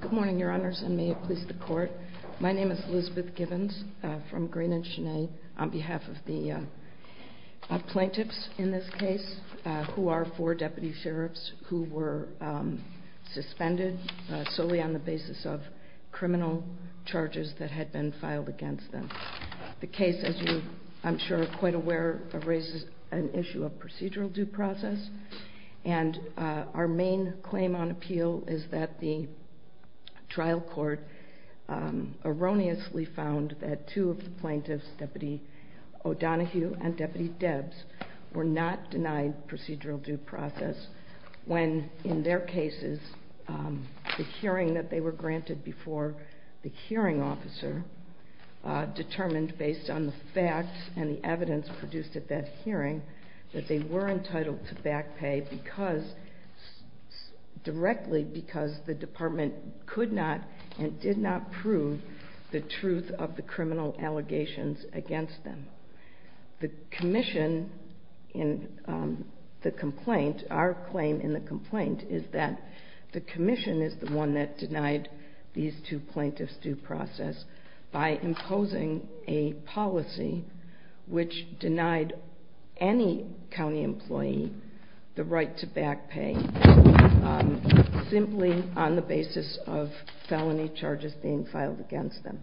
Good morning, Your Honors, and may it please the Court. My name is Elizabeth Gibbons from Green and Chenet on behalf of the plaintiffs in this case, who are four deputy sheriffs who were suspended solely on the basis of criminal charges that had been filed against them. The case, as you, I'm sure, are quite aware, raises an issue of procedural due process, and our main claim on appeal is that the trial court erroneously found that two of the plaintiffs, Deputy O'Donohue and Deputy Debs, were not denied procedural due process when, in their cases, the hearing that they were granted before the hearing officer determined, based on the facts and the evidence produced at that hearing, that they were entitled to back pay directly because the department could not and did not prove the truth of the criminal allegations against them. The commission in the complaint, our claim in the complaint, is that the commission is the one that denied these two plaintiffs due process by imposing a policy which denied any county employee the right to back pay simply on the basis of felony charges being filed against them.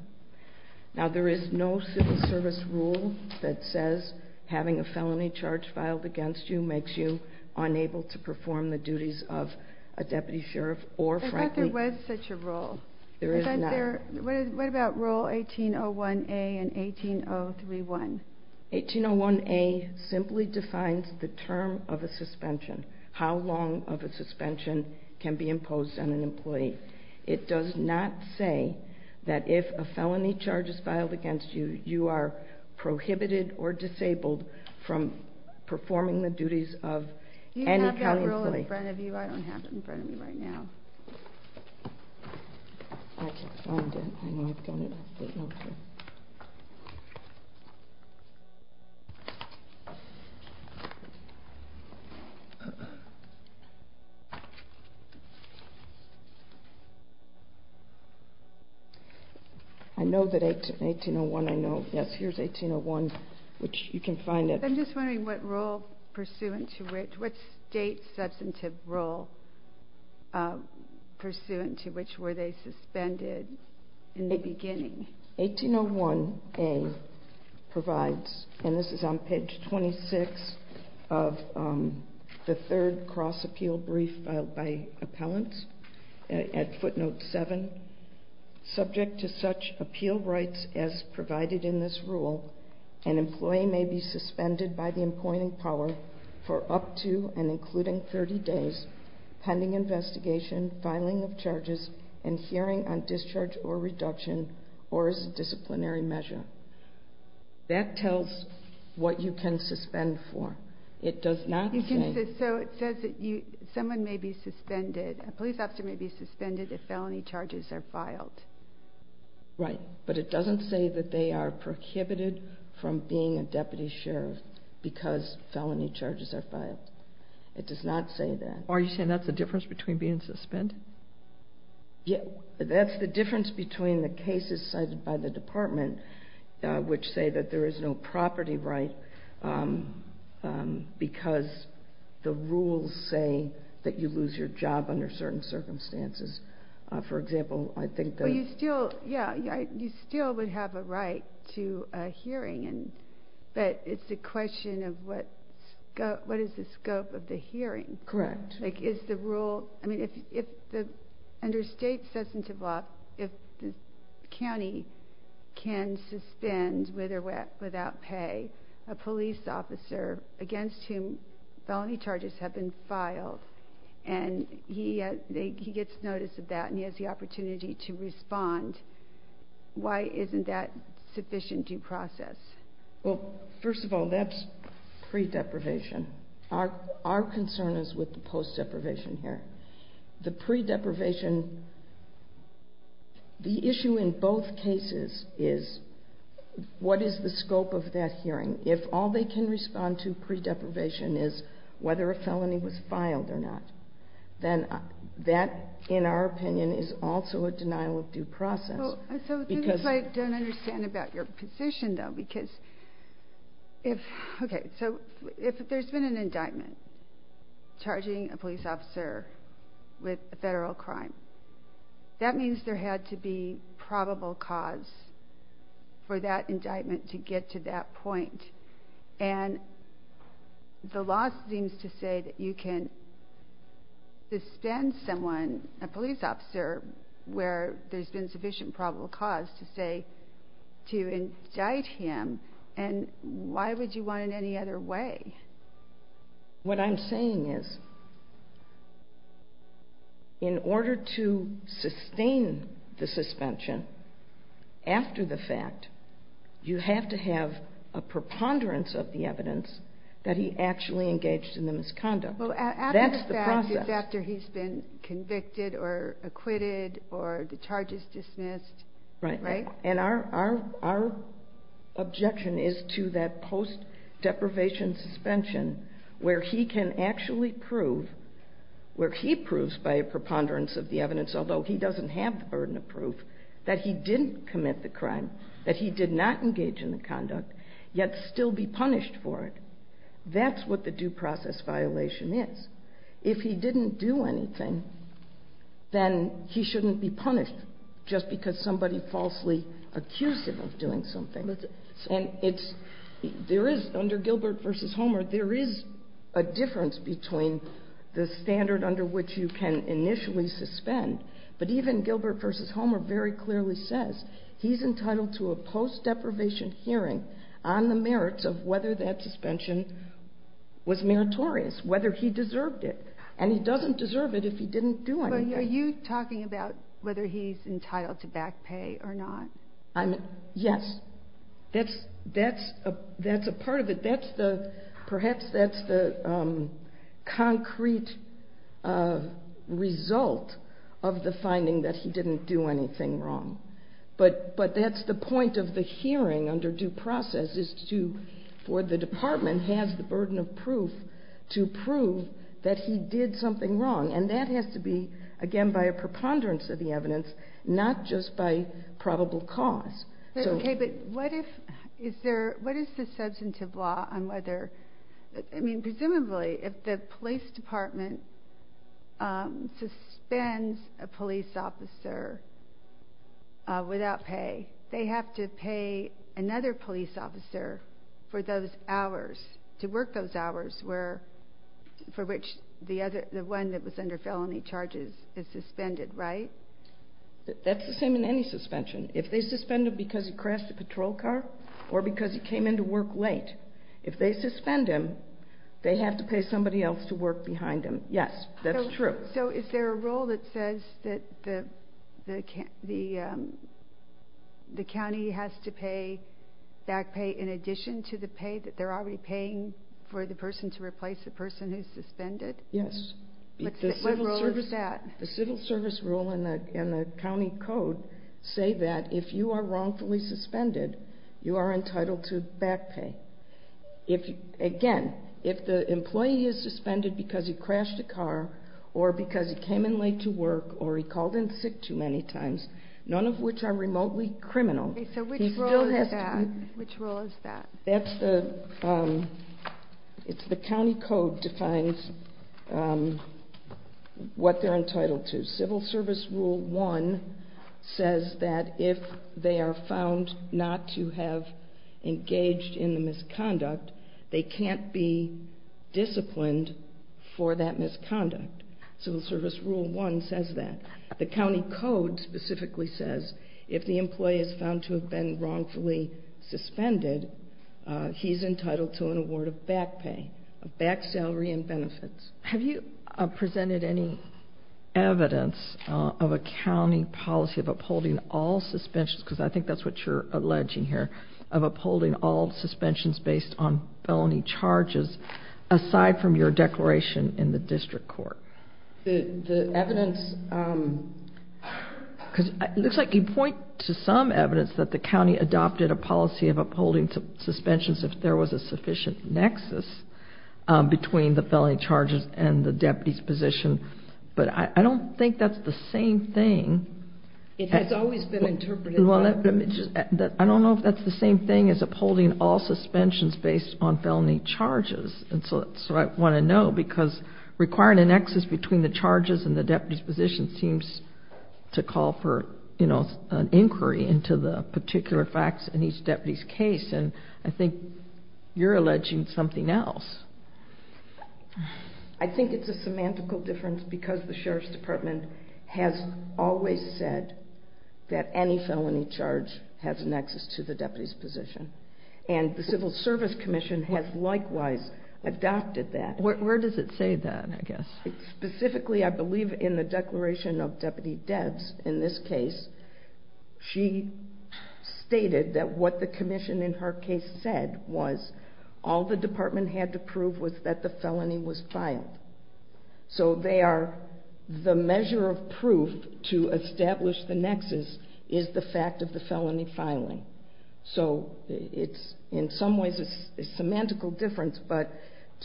Now, there is no civil service rule that says having a felony charge filed against you makes you unable to perform the duties of a deputy sheriff or, frankly... I thought there was such a rule. There is not. What about Rule 1801A and 18031? 1801A simply defines the term of a suspension, how long of a suspension can be imposed on an employee. It does not say that if a felony charge is filed against you, you are prohibited or disabled from performing the duties of any county employee. You have that rule in front of you. I don't have it in front of me right now. I can't find it. I know I've got it. I know that 1801, I know. Yes, here's 1801, which you can find it. I'm just wondering what state substantive rule pursuant to which were they suspended in the beginning? 1801A provides, and this is on page 26 of the third cross-appeal brief filed by appellants at footnote 7, subject to such appeal rights as provided in this rule, an employee may be suspended by the appointing power for up to and including 30 days pending investigation, filing of charges, and hearing on discharge or reduction or as a disciplinary measure. That tells what you can suspend for. It does not say... So it says that someone may be suspended, a police officer may be suspended if felony charges are filed. Right, but it doesn't say that they are prohibited from being a deputy sheriff because felony charges are filed. It does not say that. Are you saying that's the difference between being suspended? That's the difference between the cases cited by the department, which say that there is no property right because the rules say that you lose your job under certain circumstances. For example, I think that... You still would have a right to a hearing, but it's a question of what is the scope of the hearing. Correct. Under state substantive law, if the county can suspend, with or without pay, a police officer against whom felony charges have been filed, and he gets notice of that and he has the opportunity to respond, why isn't that sufficient due process? Well, first of all, that's pre-deprivation. Our concern is with the post-deprivation hearing. The pre-deprivation, the issue in both cases is what is the scope of that hearing. If all they can respond to pre-deprivation is whether a felony was filed or not, then that, in our opinion, is also a denial of due process. This is what I don't understand about your position, though. If there's been an indictment charging a police officer with a federal crime, that means there had to be probable cause for that indictment to get to that point. And the law seems to say that you can suspend someone, a police officer, where there's been sufficient probable cause to indict him, and why would you want it any other way? What I'm saying is, in order to sustain the suspension after the fact, you have to have a preponderance of the evidence that he actually engaged in the misconduct. Well, after the fact is after he's been convicted or acquitted or the charge is dismissed, right? And our objection is to that post-deprivation suspension where he can actually prove, where he proves by a preponderance of the evidence, although he doesn't have the burden of proof, that he didn't commit the crime, that he did not engage in the conduct, yet still be punished for it. That's what the due process violation is. If he didn't do anything, then he shouldn't be punished just because somebody falsely accused him of doing something. There is, under Gilbert v. Homer, there is a difference between the standard under which you can initially suspend, but even Gilbert v. Homer very clearly says he's entitled to a post-deprivation hearing on the merits of whether that suspension was meritorious, whether he deserved it. And he doesn't deserve it if he didn't do anything. Are you talking about whether he's entitled to back pay or not? Yes. That's a part of it. Perhaps that's the concrete result of the finding that he didn't do anything wrong. But that's the point of the hearing under due process is for the department has the burden of proof to prove that he did something wrong. And that has to be, again, by a preponderance of the evidence, not just by probable cause. Okay, but what is the substantive law on whether, I mean, presumably, if the police department suspends a police officer without pay, they have to pay another police officer for those hours, to work those hours for which the one that was under felony charges is suspended, right? That's the same in any suspension. If they suspend him because he crashed a patrol car or because he came in to work late, if they suspend him, they have to pay somebody else to work behind him. Yes, that's true. So is there a rule that says that the county has to pay back pay in addition to the pay that they're already paying for the person to replace the person who's suspended? Yes. What rule is that? The civil service rule and the county code say that if you are wrongfully suspended, you are entitled to back pay. Again, if the employee is suspended because he crashed a car or because he came in late to work or he called in sick too many times, none of which are remotely criminal. Okay, so which rule is that? It's the county code defines what they're entitled to. Civil service rule one says that if they are found not to have engaged in the misconduct, they can't be disciplined for that misconduct. Civil service rule one says that. The county code specifically says if the employee is found to have been wrongfully suspended, he's entitled to an award of back pay, back salary and benefits. Have you presented any evidence of a county policy of upholding all suspensions, because I think that's what you're alleging here, of upholding all suspensions based on felony charges aside from your declaration in the district court? The evidence, because it looks like you point to some evidence that the county adopted a policy of upholding suspensions if there was a sufficient nexus between the felony charges and the deputy's position, but I don't think that's the same thing. It has always been interpreted that way. I don't know if that's the same thing as upholding all suspensions based on felony charges. I want to know because requiring a nexus between the charges and the deputy's position seems to call for an inquiry into the particular facts in each deputy's case. I think you're alleging something else. I think it's a semantical difference because the sheriff's department has always said that any felony charge has a nexus to the deputy's position. The Civil Service Commission has likewise adopted that. Where does it say that, I guess? Specifically, I believe in the declaration of Deputy Debs in this case. She stated that what the commission in her case said was all the department had to prove was that the felony was filed. The measure of proof to establish the nexus is the fact of the felony filing. So it's in some ways a semantical difference, but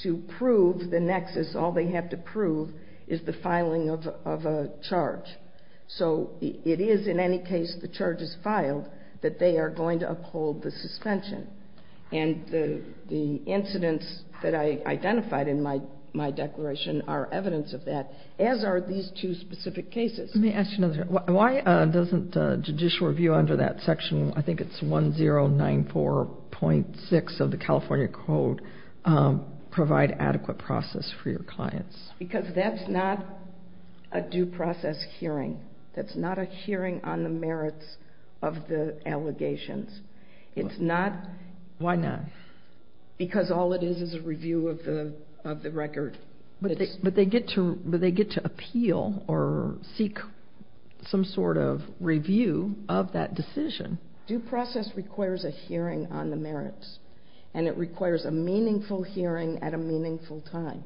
to prove the nexus, all they have to prove is the filing of a charge. So it is in any case the charge is filed that they are going to uphold the suspension. And the incidents that I identified in my declaration are evidence of that, as are these two specific cases. Let me ask you another question. Why doesn't judicial review under that section, I think it's 1094.6 of the California Code, provide adequate process for your clients? Because that's not a due process hearing. That's not a hearing on the merits of the allegations. It's not. Why not? Because all it is is a review of the record. But they get to appeal or seek some sort of review of that decision. Due process requires a hearing on the merits, and it requires a meaningful hearing at a meaningful time.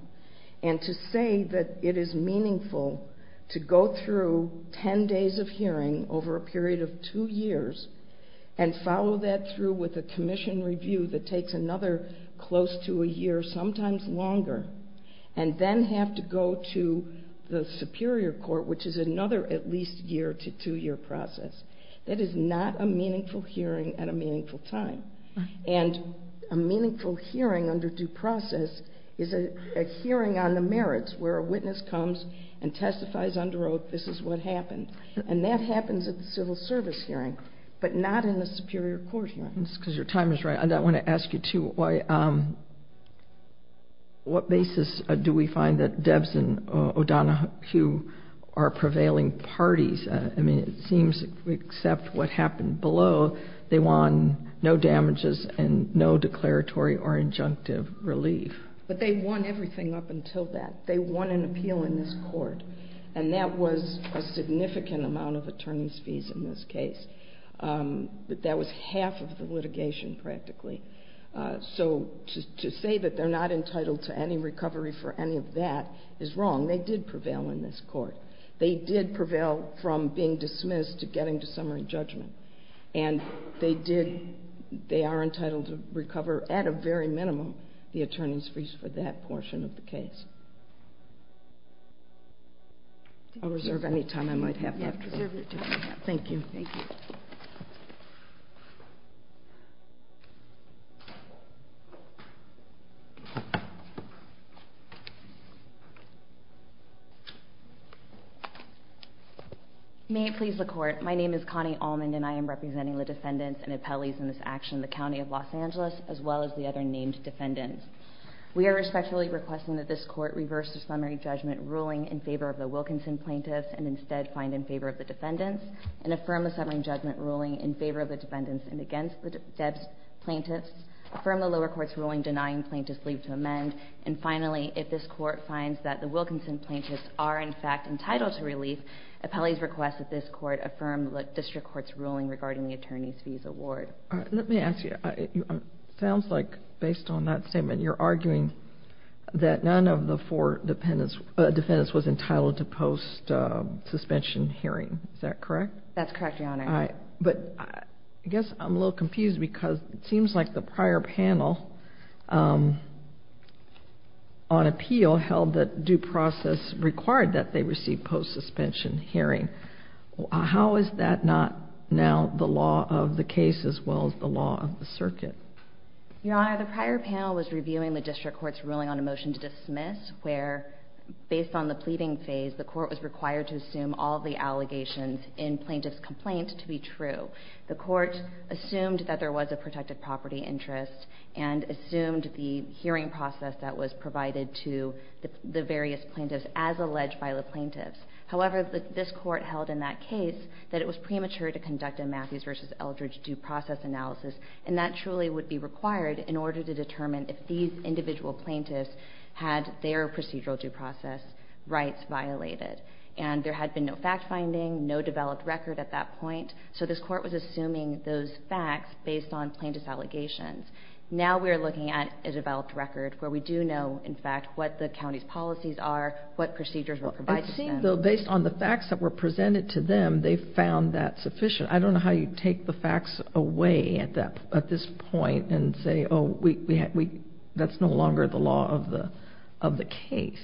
And to say that it is meaningful to go through 10 days of hearing over a period of two years and follow that through with a commission review that takes another close to a year, sometimes longer, and then have to go to the superior court, which is another at least year to two-year process, that is not a meaningful hearing at a meaningful time. And a meaningful hearing under due process is a hearing on the merits, where a witness comes and testifies under oath, this is what happened. And that happens at the civil service hearing, but not in the superior court hearings. Because your time is right. I want to ask you, too, what basis do we find that Debs and O'Donohue are prevailing parties? I mean, it seems, except what happened below, they won no damages and no declaratory or injunctive relief. But they won everything up until that. They won an appeal in this court. And that was a significant amount of attorney's fees in this case. That was half of the litigation, practically. So to say that they're not entitled to any recovery for any of that is wrong. They did prevail in this court. They did prevail from being dismissed to getting to summary judgment. And they are entitled to recover, at a very minimum, the attorney's fees for that portion of the case. I'll reserve any time I might have. Thank you. Thank you. May it please the Court. My name is Connie Almond, and I am representing the defendants and appellees in this action, the County of Los Angeles, as well as the other named defendants. We are respectfully requesting that this Court reverse the summary judgment ruling in favor of the Wilkinson plaintiffs and instead find in favor of the defendants, and affirm the summary judgment ruling in favor of the defendants and against the plaintiffs, affirm the lower court's ruling denying plaintiffs leave to amend, and finally, if this Court finds that the Wilkinson plaintiffs are, in fact, entitled to relief, appellees request that this Court affirm the district court's ruling regarding the attorney's fees award. Let me ask you, it sounds like, based on that statement, you're arguing that none of the four defendants was entitled to post-suspension hearing. Is that correct? That's correct, Your Honor. But I guess I'm a little confused because it seems like the prior panel on appeal held that due process required that they receive post-suspension hearing. How is that not now the law of the case as well as the law of the circuit? Your Honor, the prior panel was reviewing the district court's ruling on a motion to dismiss, where, based on the pleading phase, the court was required to assume all of the allegations in plaintiff's complaint to be true. The court assumed that there was a protected property interest and assumed the hearing process that was provided to the various plaintiffs as alleged by the plaintiffs. However, this court held in that case that it was premature to conduct a Matthews v. Eldridge due process analysis, and that truly would be required in order to determine if these individual plaintiffs had their procedural due process rights violated. And there had been no fact-finding, no developed record at that point, so this court was assuming those facts based on plaintiff's allegations. Now we are looking at a developed record where we do know, in fact, what the county's policies are, what procedures were provided to them. So based on the facts that were presented to them, they found that sufficient. I don't know how you take the facts away at this point and say, oh, that's no longer the law of the case.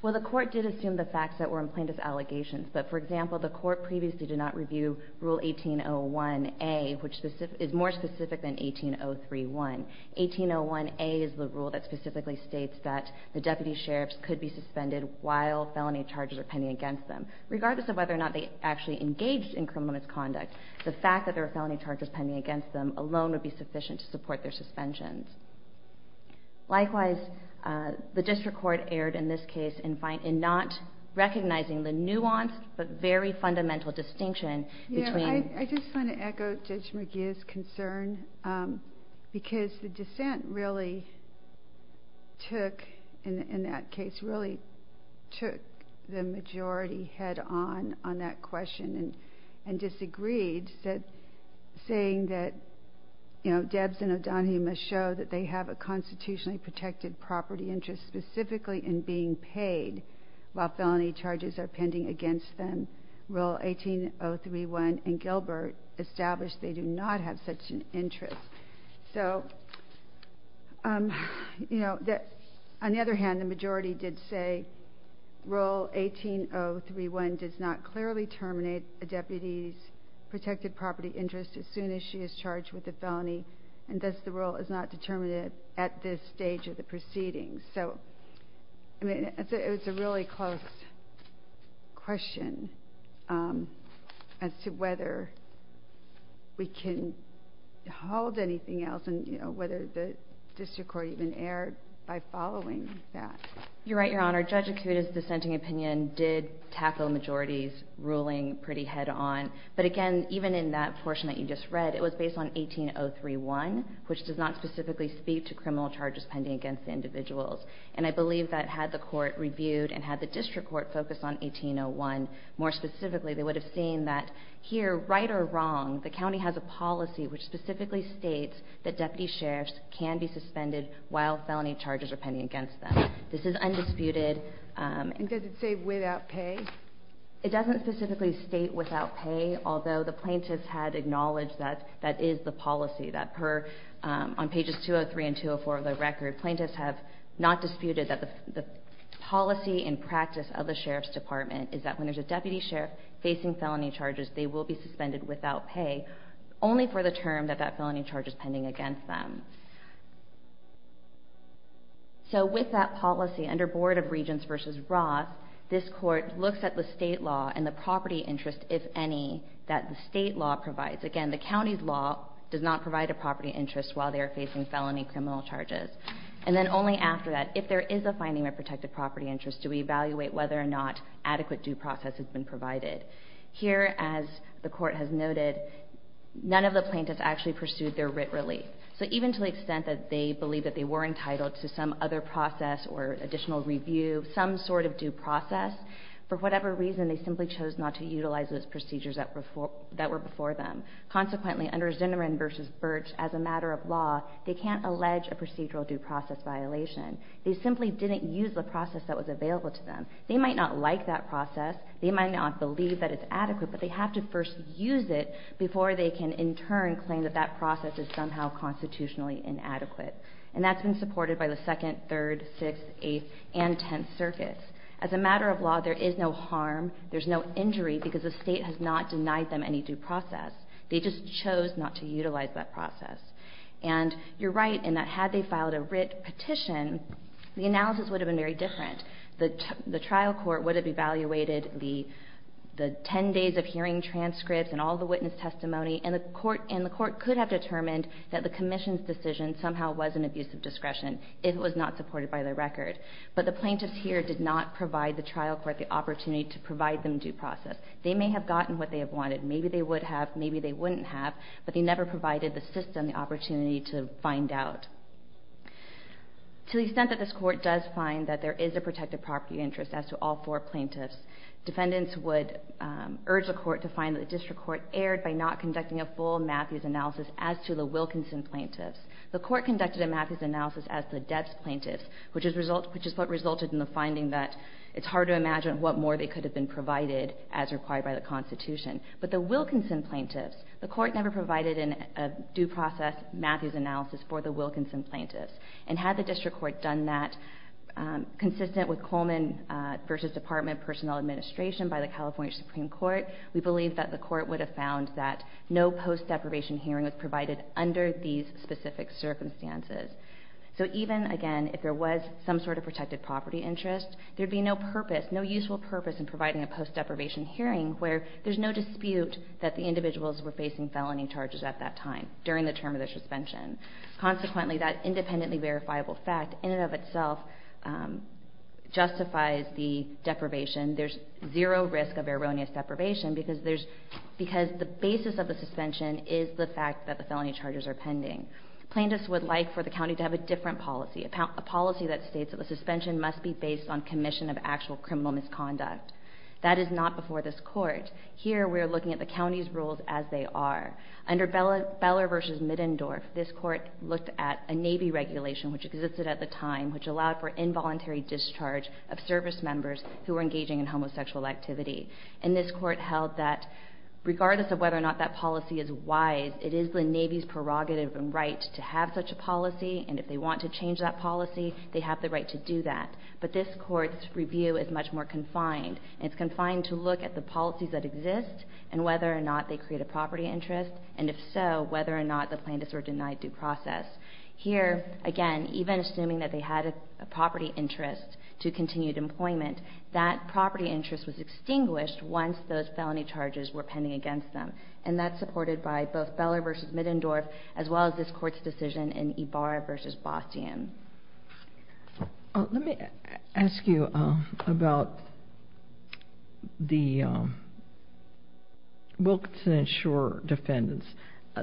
Well, the court did assume the facts that were in plaintiff's allegations, but, for example, the court previously did not review Rule 1801A, which is more specific than 18031. 1801A is the rule that specifically states that the deputy sheriffs could be suspended while felony charges are pending against them. Regardless of whether or not they actually engaged in criminal misconduct, the fact that there were felony charges pending against them alone would be sufficient to support their suspensions. Likewise, the district court erred in this case in not recognizing the nuanced but very fundamental distinction between... I just want to echo Judge McGeeh's concern because the dissent really took, in that case, really took the majority head on on that question and disagreed saying that Debs and O'Donohue must show that they have a constitutionally protected property interest specifically in being paid while felony charges are pending against them. Rule 18031 in Gilbert established they do not have such an interest. On the other hand, the majority did say, Rule 18031 does not clearly terminate a deputy's protected property interest as soon as she is charged with a felony, and thus the rule is not determinative at this stage of the proceedings. It's a really close question as to whether we can hold anything else and whether the district court even erred by following that. You're right, Your Honor. Judge Acuda's dissenting opinion did tackle a majority's ruling pretty head on, but again, even in that portion that you just read, it was based on 18031, which does not specifically speak to criminal charges pending against individuals. And I believe that had the court reviewed and had the district court focused on 1801 more specifically, they would have seen that here, right or wrong, the county has a policy which specifically states that deputy sheriffs can be suspended while felony charges are pending against them. This is undisputed. And does it say without pay? It doesn't specifically state without pay, although the plaintiffs had acknowledged that that is the policy, that on pages 203 and 204 of the record, plaintiffs have not disputed that the policy and practice of the sheriff's department is that when there's a deputy sheriff facing felony charges, they will be suspended without pay, only for the term that that felony charge is pending against them. So with that policy, under Board of Regents v. Roth, this court looks at the state law and the property interest, if any, that the state law provides. Again, the county's law does not provide a property interest while they are facing felony criminal charges. And then only after that, if there is a finding of protected property interest, do we evaluate whether or not adequate due process has been provided. Here, as the court has noted, none of the plaintiffs actually pursued their writ relief. So even to the extent that they believe that they were entitled to some other process or additional review, some sort of due process, for whatever reason, they simply chose not to utilize those procedures that were before them. Consequently, under Zinneren v. Birch, as a matter of law, they can't allege a procedural due process violation. They simply didn't use the process that was available to them. They might not like that process, they might not believe that it's adequate, but they have to first use it before they can, in turn, claim that that process is somehow constitutionally inadequate. And that's been supported by the 2nd, 3rd, 6th, 8th, and 10th circuits. As a matter of law, there is no harm, there's no injury, because the State has not denied them any due process. They just chose not to utilize that process. And you're right in that had they filed a writ petition, the analysis would have been very different. The trial court would have evaluated the 10 days of hearing transcripts and all the witness testimony, and the court could have determined that the commission's decision somehow was an abuse of discretion. It was not supported by the record. But the plaintiffs here did not provide the trial court the opportunity to provide them due process. They may have gotten what they have wanted. Maybe they would have, maybe they wouldn't have, but they never provided the system the opportunity to find out. To the extent that this court does find that there is a protected property interest as to all four plaintiffs, defendants would urge the court to find that the district court erred by not conducting a full Matthews analysis as to the Wilkinson plaintiffs. The court conducted a Matthews analysis as to the Debs plaintiffs, which is what resulted in the finding that it's hard to imagine what more they could have been provided as required by the Constitution. But the Wilkinson plaintiffs, the court never provided a due process Matthews analysis for the Wilkinson plaintiffs. And had the district court done that, consistent with Coleman v. Department of Personnel Administration by the California Supreme Court, we believe that the court would have found that no post-deprivation hearing was provided under these specific circumstances. So even, again, if there was some sort of protected property interest, there'd be no purpose, no useful purpose in providing a post-deprivation hearing where there's no dispute that the individuals were facing felony charges at that time during the term of their suspension. Consequently, that independently verifiable fact in and of itself justifies the deprivation. There's zero risk of erroneous deprivation because the basis of the suspension is the fact that the felony charges are pending. Plaintiffs would like for the county to have a different policy, a policy that states that the suspension must be based on commission of actual criminal misconduct. That is not before this court. Here, we're looking at the county's rules as they are. Under Beller v. Middendorf, this court looked at a Navy regulation, which existed at the time, which allowed for involuntary discharge of service members who were engaging in homosexual activity. And this court held that, regardless of whether or not that policy is wise, it is the Navy's prerogative and right to have such a policy, and if they want to change that policy, they have the right to do that. But this court's review is much more confined. It's confined to look at the policies that exist and whether or not they create a property interest, and if so, whether or not the plaintiffs were denied due process. Here, again, even assuming that they had a property interest to continued employment, that property interest was extinguished once those felony charges were pending against them. And that's supported by both Beller v. Middendorf, as well as this court's decision in Ibarra v. Baustian. Let me ask you about the Wilkinson & Shore defendants.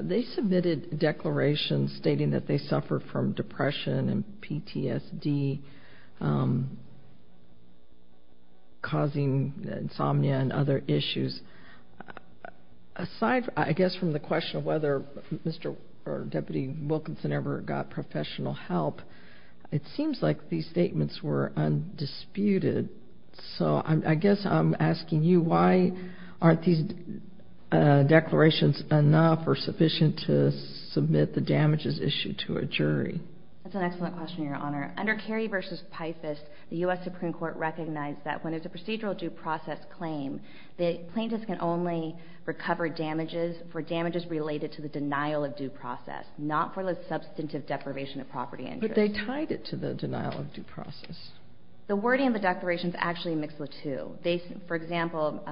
They submitted declarations stating that they suffered from depression and PTSD, causing insomnia and other issues. Aside, I guess, from the question of whether Mr. or Deputy Wilkinson ever got professional help, it seems like these statements were undisputed. So I guess I'm asking you, why aren't these declarations enough or sufficient to submit the damages issued to a jury? That's an excellent question, Your Honor. Under Kerry v. Pifus, the U.S. Supreme Court recognized that when it's a procedural due process claim, the plaintiff can only recover damages for damages related to the denial of due process, not for the substantive deprivation of property interest. But they tied it to the denial of due process. The wording of the declarations actually mixed the two. For example,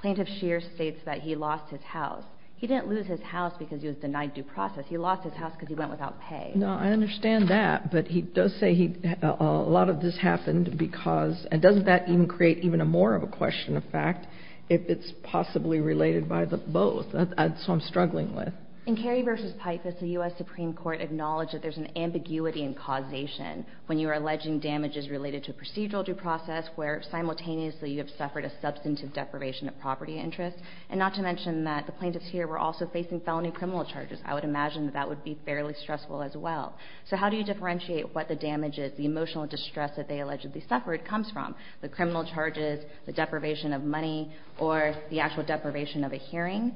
Plaintiff Scheer states that he lost his house. He didn't lose his house because he was denied due process. He lost his house because he went without pay. No, I understand that. But he does say a lot of this happened because... And doesn't that even create even more of a question of fact if it's possibly related by both? That's what I'm struggling with. In Kerry v. Pifus, the U.S. Supreme Court acknowledged that there's an ambiguity in causation when you are alleging damages related to procedural due process where simultaneously you have suffered a substantive deprivation of property interest. And not to mention that the plaintiffs here were also facing felony criminal charges. I would imagine that that would be fairly stressful as well. So how do you differentiate what the damages, the emotional distress that they allegedly suffered comes from? The criminal charges, the deprivation of money, or the actual deprivation of a hearing?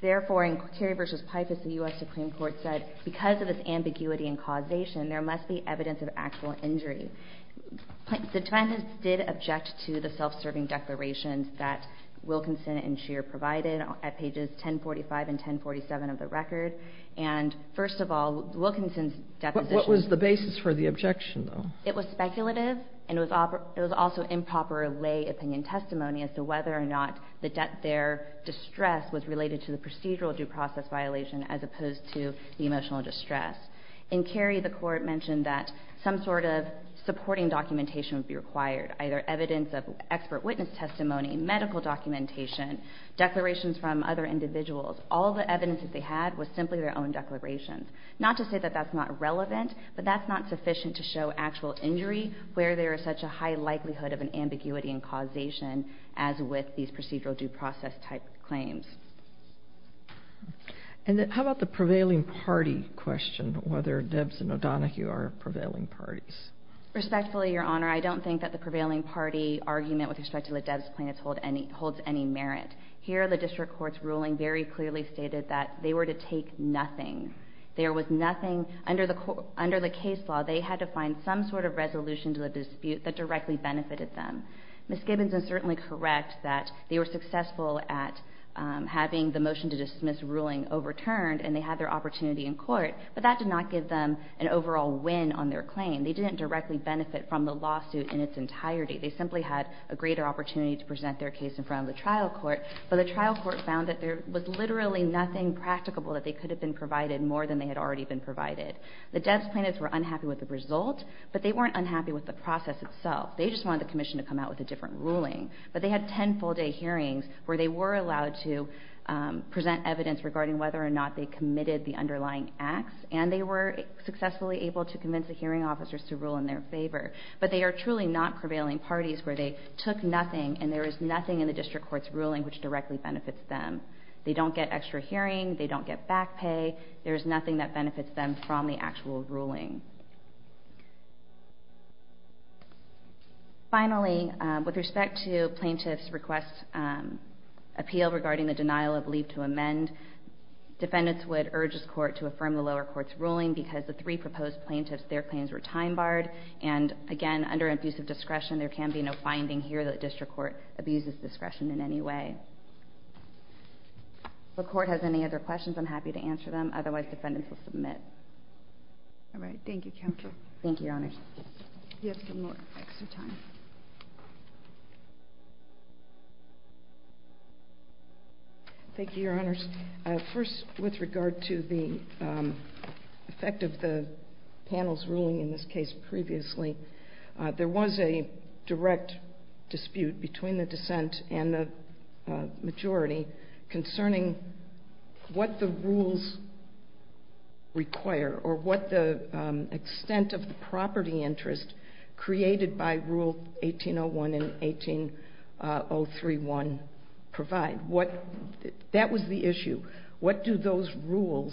Therefore, in Kerry v. Pifus, the U.S. Supreme Court said because of this ambiguity in causation, there must be evidence of actual injury. The defendants did object to the self-serving declarations that Wilkinson and Scheer provided at pages 1045 and 1047 of the record. And first of all, Wilkinson's deposition... It was speculative and it was also improper lay opinion testimony as to whether or not their distress was related to the procedural due process violation as opposed to the emotional distress. In Kerry, the Court mentioned that some sort of supporting documentation would be required, either evidence of expert witness testimony, medical documentation, declarations from other individuals. All the evidence that they had was simply their own declarations. Not to say that that's not relevant, but that's not sufficient to show actual injury, where there is such a high likelihood of an ambiguity in causation as with these procedural due process type claims. And how about the prevailing party question, whether Debs and O'Donoghue are prevailing parties? Respectfully, Your Honor, I don't think that the prevailing party argument with respect to the Debs plaintiffs holds any merit. Here, the district court's ruling very clearly stated that they were to take nothing. There was nothing... Under the case law, they had to find some sort of resolution to the dispute that directly benefited them. Ms. Gibbons is certainly correct that they were successful at having the motion to dismiss ruling overturned and they had their opportunity in court, but that did not give them an overall win on their claim. They didn't directly benefit from the lawsuit in its entirety. They simply had a greater opportunity to present their case in front of the trial court, but the trial court found that there was literally nothing practicable that they could have been provided more than they had already been provided. The Debs plaintiffs were unhappy with the result, but they weren't unhappy with the process itself. They just wanted the commission to come out with a different ruling. But they had ten full-day hearings where they were allowed to present evidence regarding whether or not they committed the underlying acts, and they were successfully able to convince the hearing officers to rule in their favor. But they are truly not prevailing parties where they took nothing and there is nothing in the district court's ruling which directly benefits them. They don't get extra hearing. They don't get back pay. There is nothing that benefits them from the actual ruling. Finally, with respect to plaintiff's request appeal regarding the denial of leave to amend, defendants would urge this court to affirm the lower court's ruling because the three proposed plaintiffs, their claims were time-barred, and again, under abusive discretion, there can be no finding here that district court abuses discretion in any way. If the court has any other questions, I'm happy to answer them. Otherwise, defendants will submit. All right. Thank you, Counsel. Thank you, Your Honors. You have some more extra time. Thank you, Your Honors. First, with regard to the effect of the panel's ruling in this case previously, there was a direct dispute between the dissent and the majority concerning what the rules require or what the extent of the property interest created by Rule 1801 and 18031 provide. That was the issue. What do those rules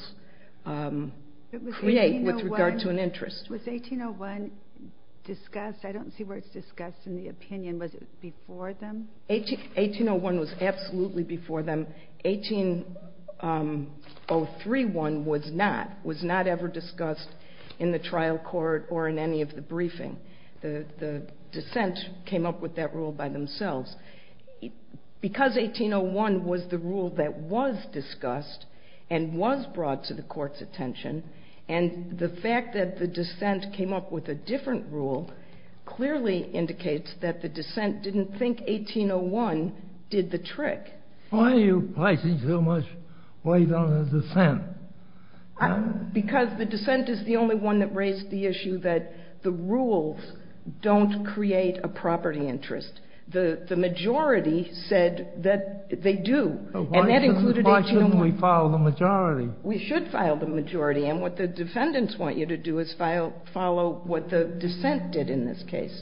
create with regard to an interest? Was 1801 discussed? I don't see where it's discussed in the opinion. Was it before them? 1801 was absolutely before them. 18031 was not. It was not ever discussed in the trial court or in any of the briefing. The dissent came up with that rule by themselves. Because 1801 was the rule that was discussed and was brought to the court's attention, and the fact that the dissent came up with a different rule clearly indicates that the dissent didn't think 1801 did the trick. Why are you placing so much weight on the dissent? Because the dissent is the only one that raised the issue that the rules don't create a property interest. The majority said that they do, and that included 1801. Why shouldn't we follow the majority? We should follow the majority, and what the defendants want you to do is follow what the dissent did in this case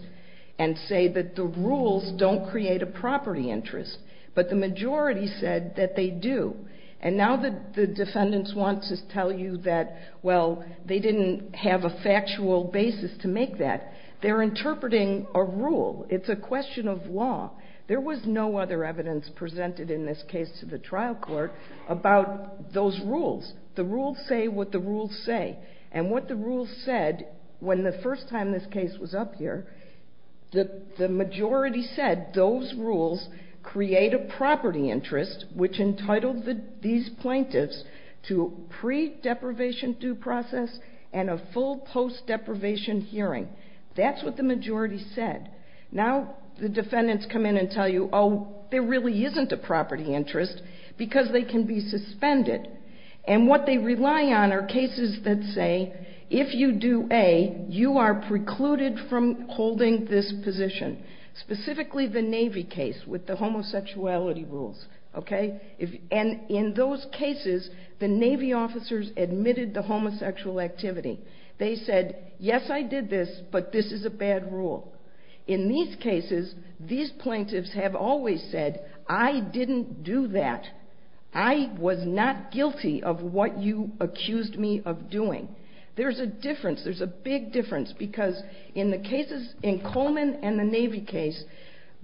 and say that the rules don't create a property interest. But the majority said that they do, and now the defendants want to tell you that, well, they didn't have a factual basis to make that. They're interpreting a rule. It's a question of law. There was no other evidence presented in this case to the trial court about those rules. The rules say what the rules say, and what the rules said when the first time this case was up here, the majority said those rules create a property interest, which entitled these plaintiffs to pre-deprivation due process and a full post-deprivation hearing. That's what the majority said. Now the defendants come in and tell you, oh, there really isn't a property interest because they can be suspended, and what they rely on are cases that say, if you do A, you are precluded from holding this position, specifically the Navy case with the homosexuality rules. And in those cases, the Navy officers admitted the homosexual activity. They said, yes, I did this, but this is a bad rule. In these cases, these plaintiffs have always said, I didn't do that. I was not guilty of what you accused me of doing. There's a difference. There's a big difference because in Coleman and the Navy case,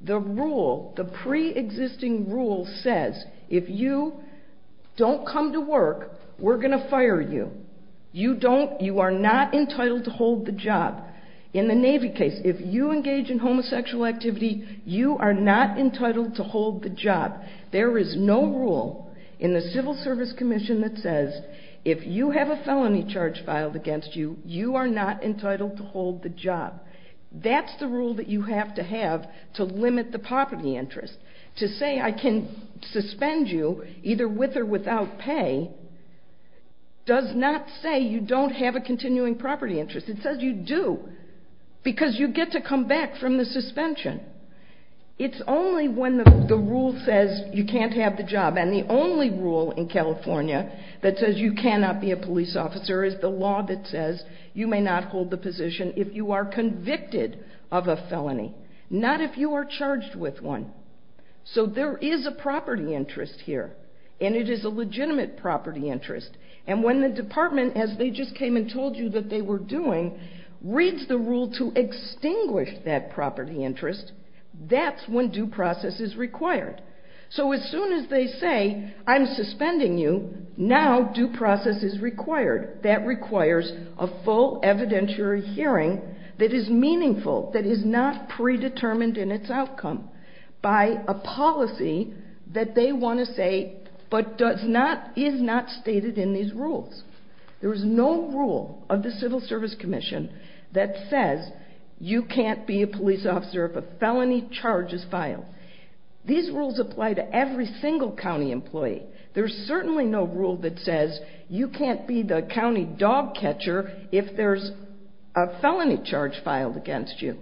the rule, the pre-existing rule says, if you don't come to work, we're going to fire you. You are not entitled to hold the job. In the Navy case, if you engage in homosexual activity, you are not entitled to hold the job. There is no rule in the Civil Service Commission that says, if you have a felony charge filed against you, you are not entitled to hold the job. That's the rule that you have to have to limit the property interest. To say I can suspend you, either with or without pay, does not say you don't have a continuing property interest. It says you do because you get to come back from the suspension. It's only when the rule says you can't have the job, and the only rule in California that says you cannot be a police officer is the law that says you may not hold the position if you are convicted of a felony, not if you are charged with one. So there is a property interest here, and it is a legitimate property interest. And when the department, as they just came and told you that they were doing, reads the rule to extinguish that property interest, that's when due process is required. So as soon as they say I'm suspending you, now due process is required. That requires a full evidentiary hearing that is meaningful, that is not predetermined in its outcome by a policy that they want to say but is not stated in these rules. There is no rule of the Civil Service Commission that says you can't be a police officer if a felony charge is filed. These rules apply to every single county employee. There's certainly no rule that says you can't be the county dog catcher if there's a felony charge filed against you.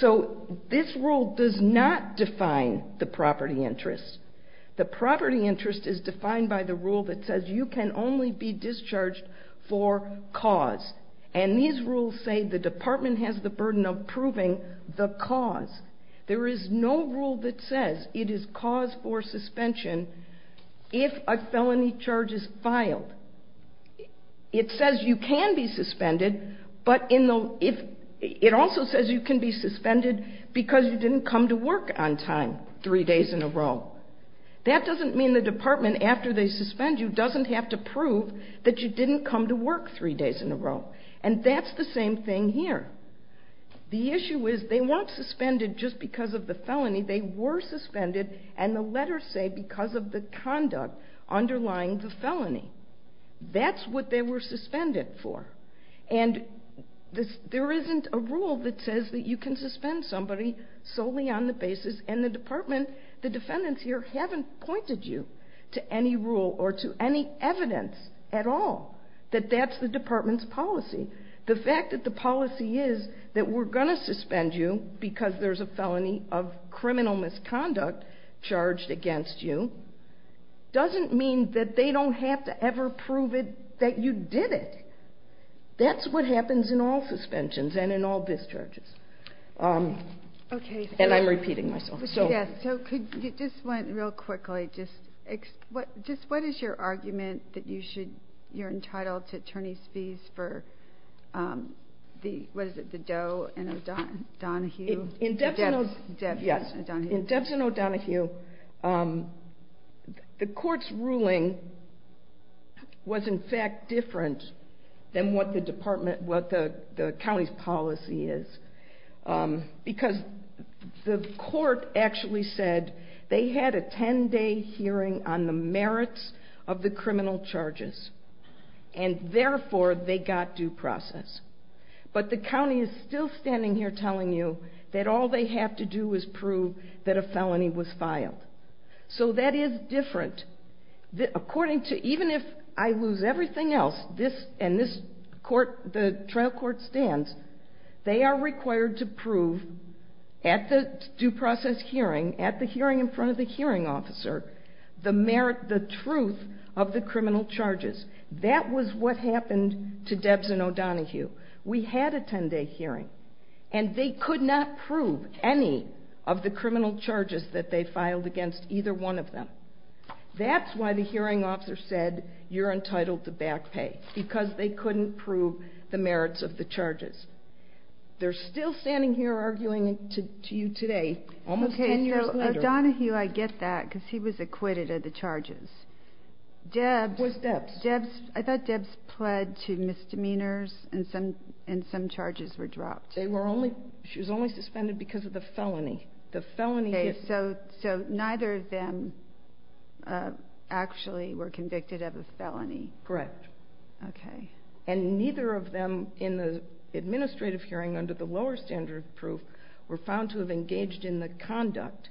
So this rule does not define the property interest. The property interest is defined by the rule that says you can only be discharged for cause. And these rules say the department has the burden of proving the cause. There is no rule that says it is cause for suspension if a felony charge is filed. It says you can be suspended, but it also says you can be suspended because you didn't come to work on time three days in a row. That doesn't mean the department, after they suspend you, doesn't have to prove that you didn't come to work three days in a row. And that's the same thing here. The issue is they weren't suspended just because of the felony. They were suspended, and the letters say because of the conduct underlying the felony. That's what they were suspended for. And there isn't a rule that says that you can suspend somebody solely on the basis and the department, the defendants here, haven't pointed you to any rule or to any evidence at all that that's the department's policy. The fact that the policy is that we're going to suspend you because there's a felony of criminal misconduct charged against you doesn't mean that they don't have to ever prove that you did it. That's what happens in all suspensions and in all discharges. And I'm repeating myself. So just real quickly, what is your argument that you're entitled to attorney's fees for the Doe and O'Donohue? In Debs and O'Donohue, the court's ruling was in fact different than what the county's policy is because the court actually said they had a 10-day hearing on the merits of the criminal charges, and therefore they got due process. But the county is still standing here telling you that all they have to do is prove that a felony was filed. So that is different. Even if I lose everything else and the trial court stands, they are required to prove at the due process hearing, at the hearing in front of the hearing officer, the merit, the truth of the criminal charges. That was what happened to Debs and O'Donohue. We had a 10-day hearing, and they could not prove any of the criminal charges that they filed against either one of them. That's why the hearing officer said you're entitled to back pay, because they couldn't prove the merits of the charges. They're still standing here arguing to you today, almost 10 years later. O'Donohue, I get that, because he was acquitted of the charges. Was Debs? I thought Debs pled to misdemeanors, and some charges were dropped. She was only suspended because of the felony. So neither of them actually were convicted of a felony. Correct. Okay. And neither of them, in the administrative hearing, under the lower standard of proof, were found to have engaged in the conduct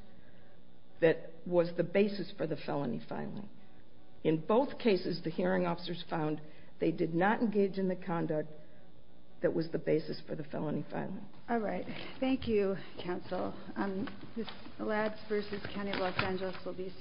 that was the basis for the felony filing. In both cases, the hearing officers found they did not engage in the conduct that was the basis for the felony filing. All right. Thank you, counsel. This Alads v. County of Los Angeles will be submitted.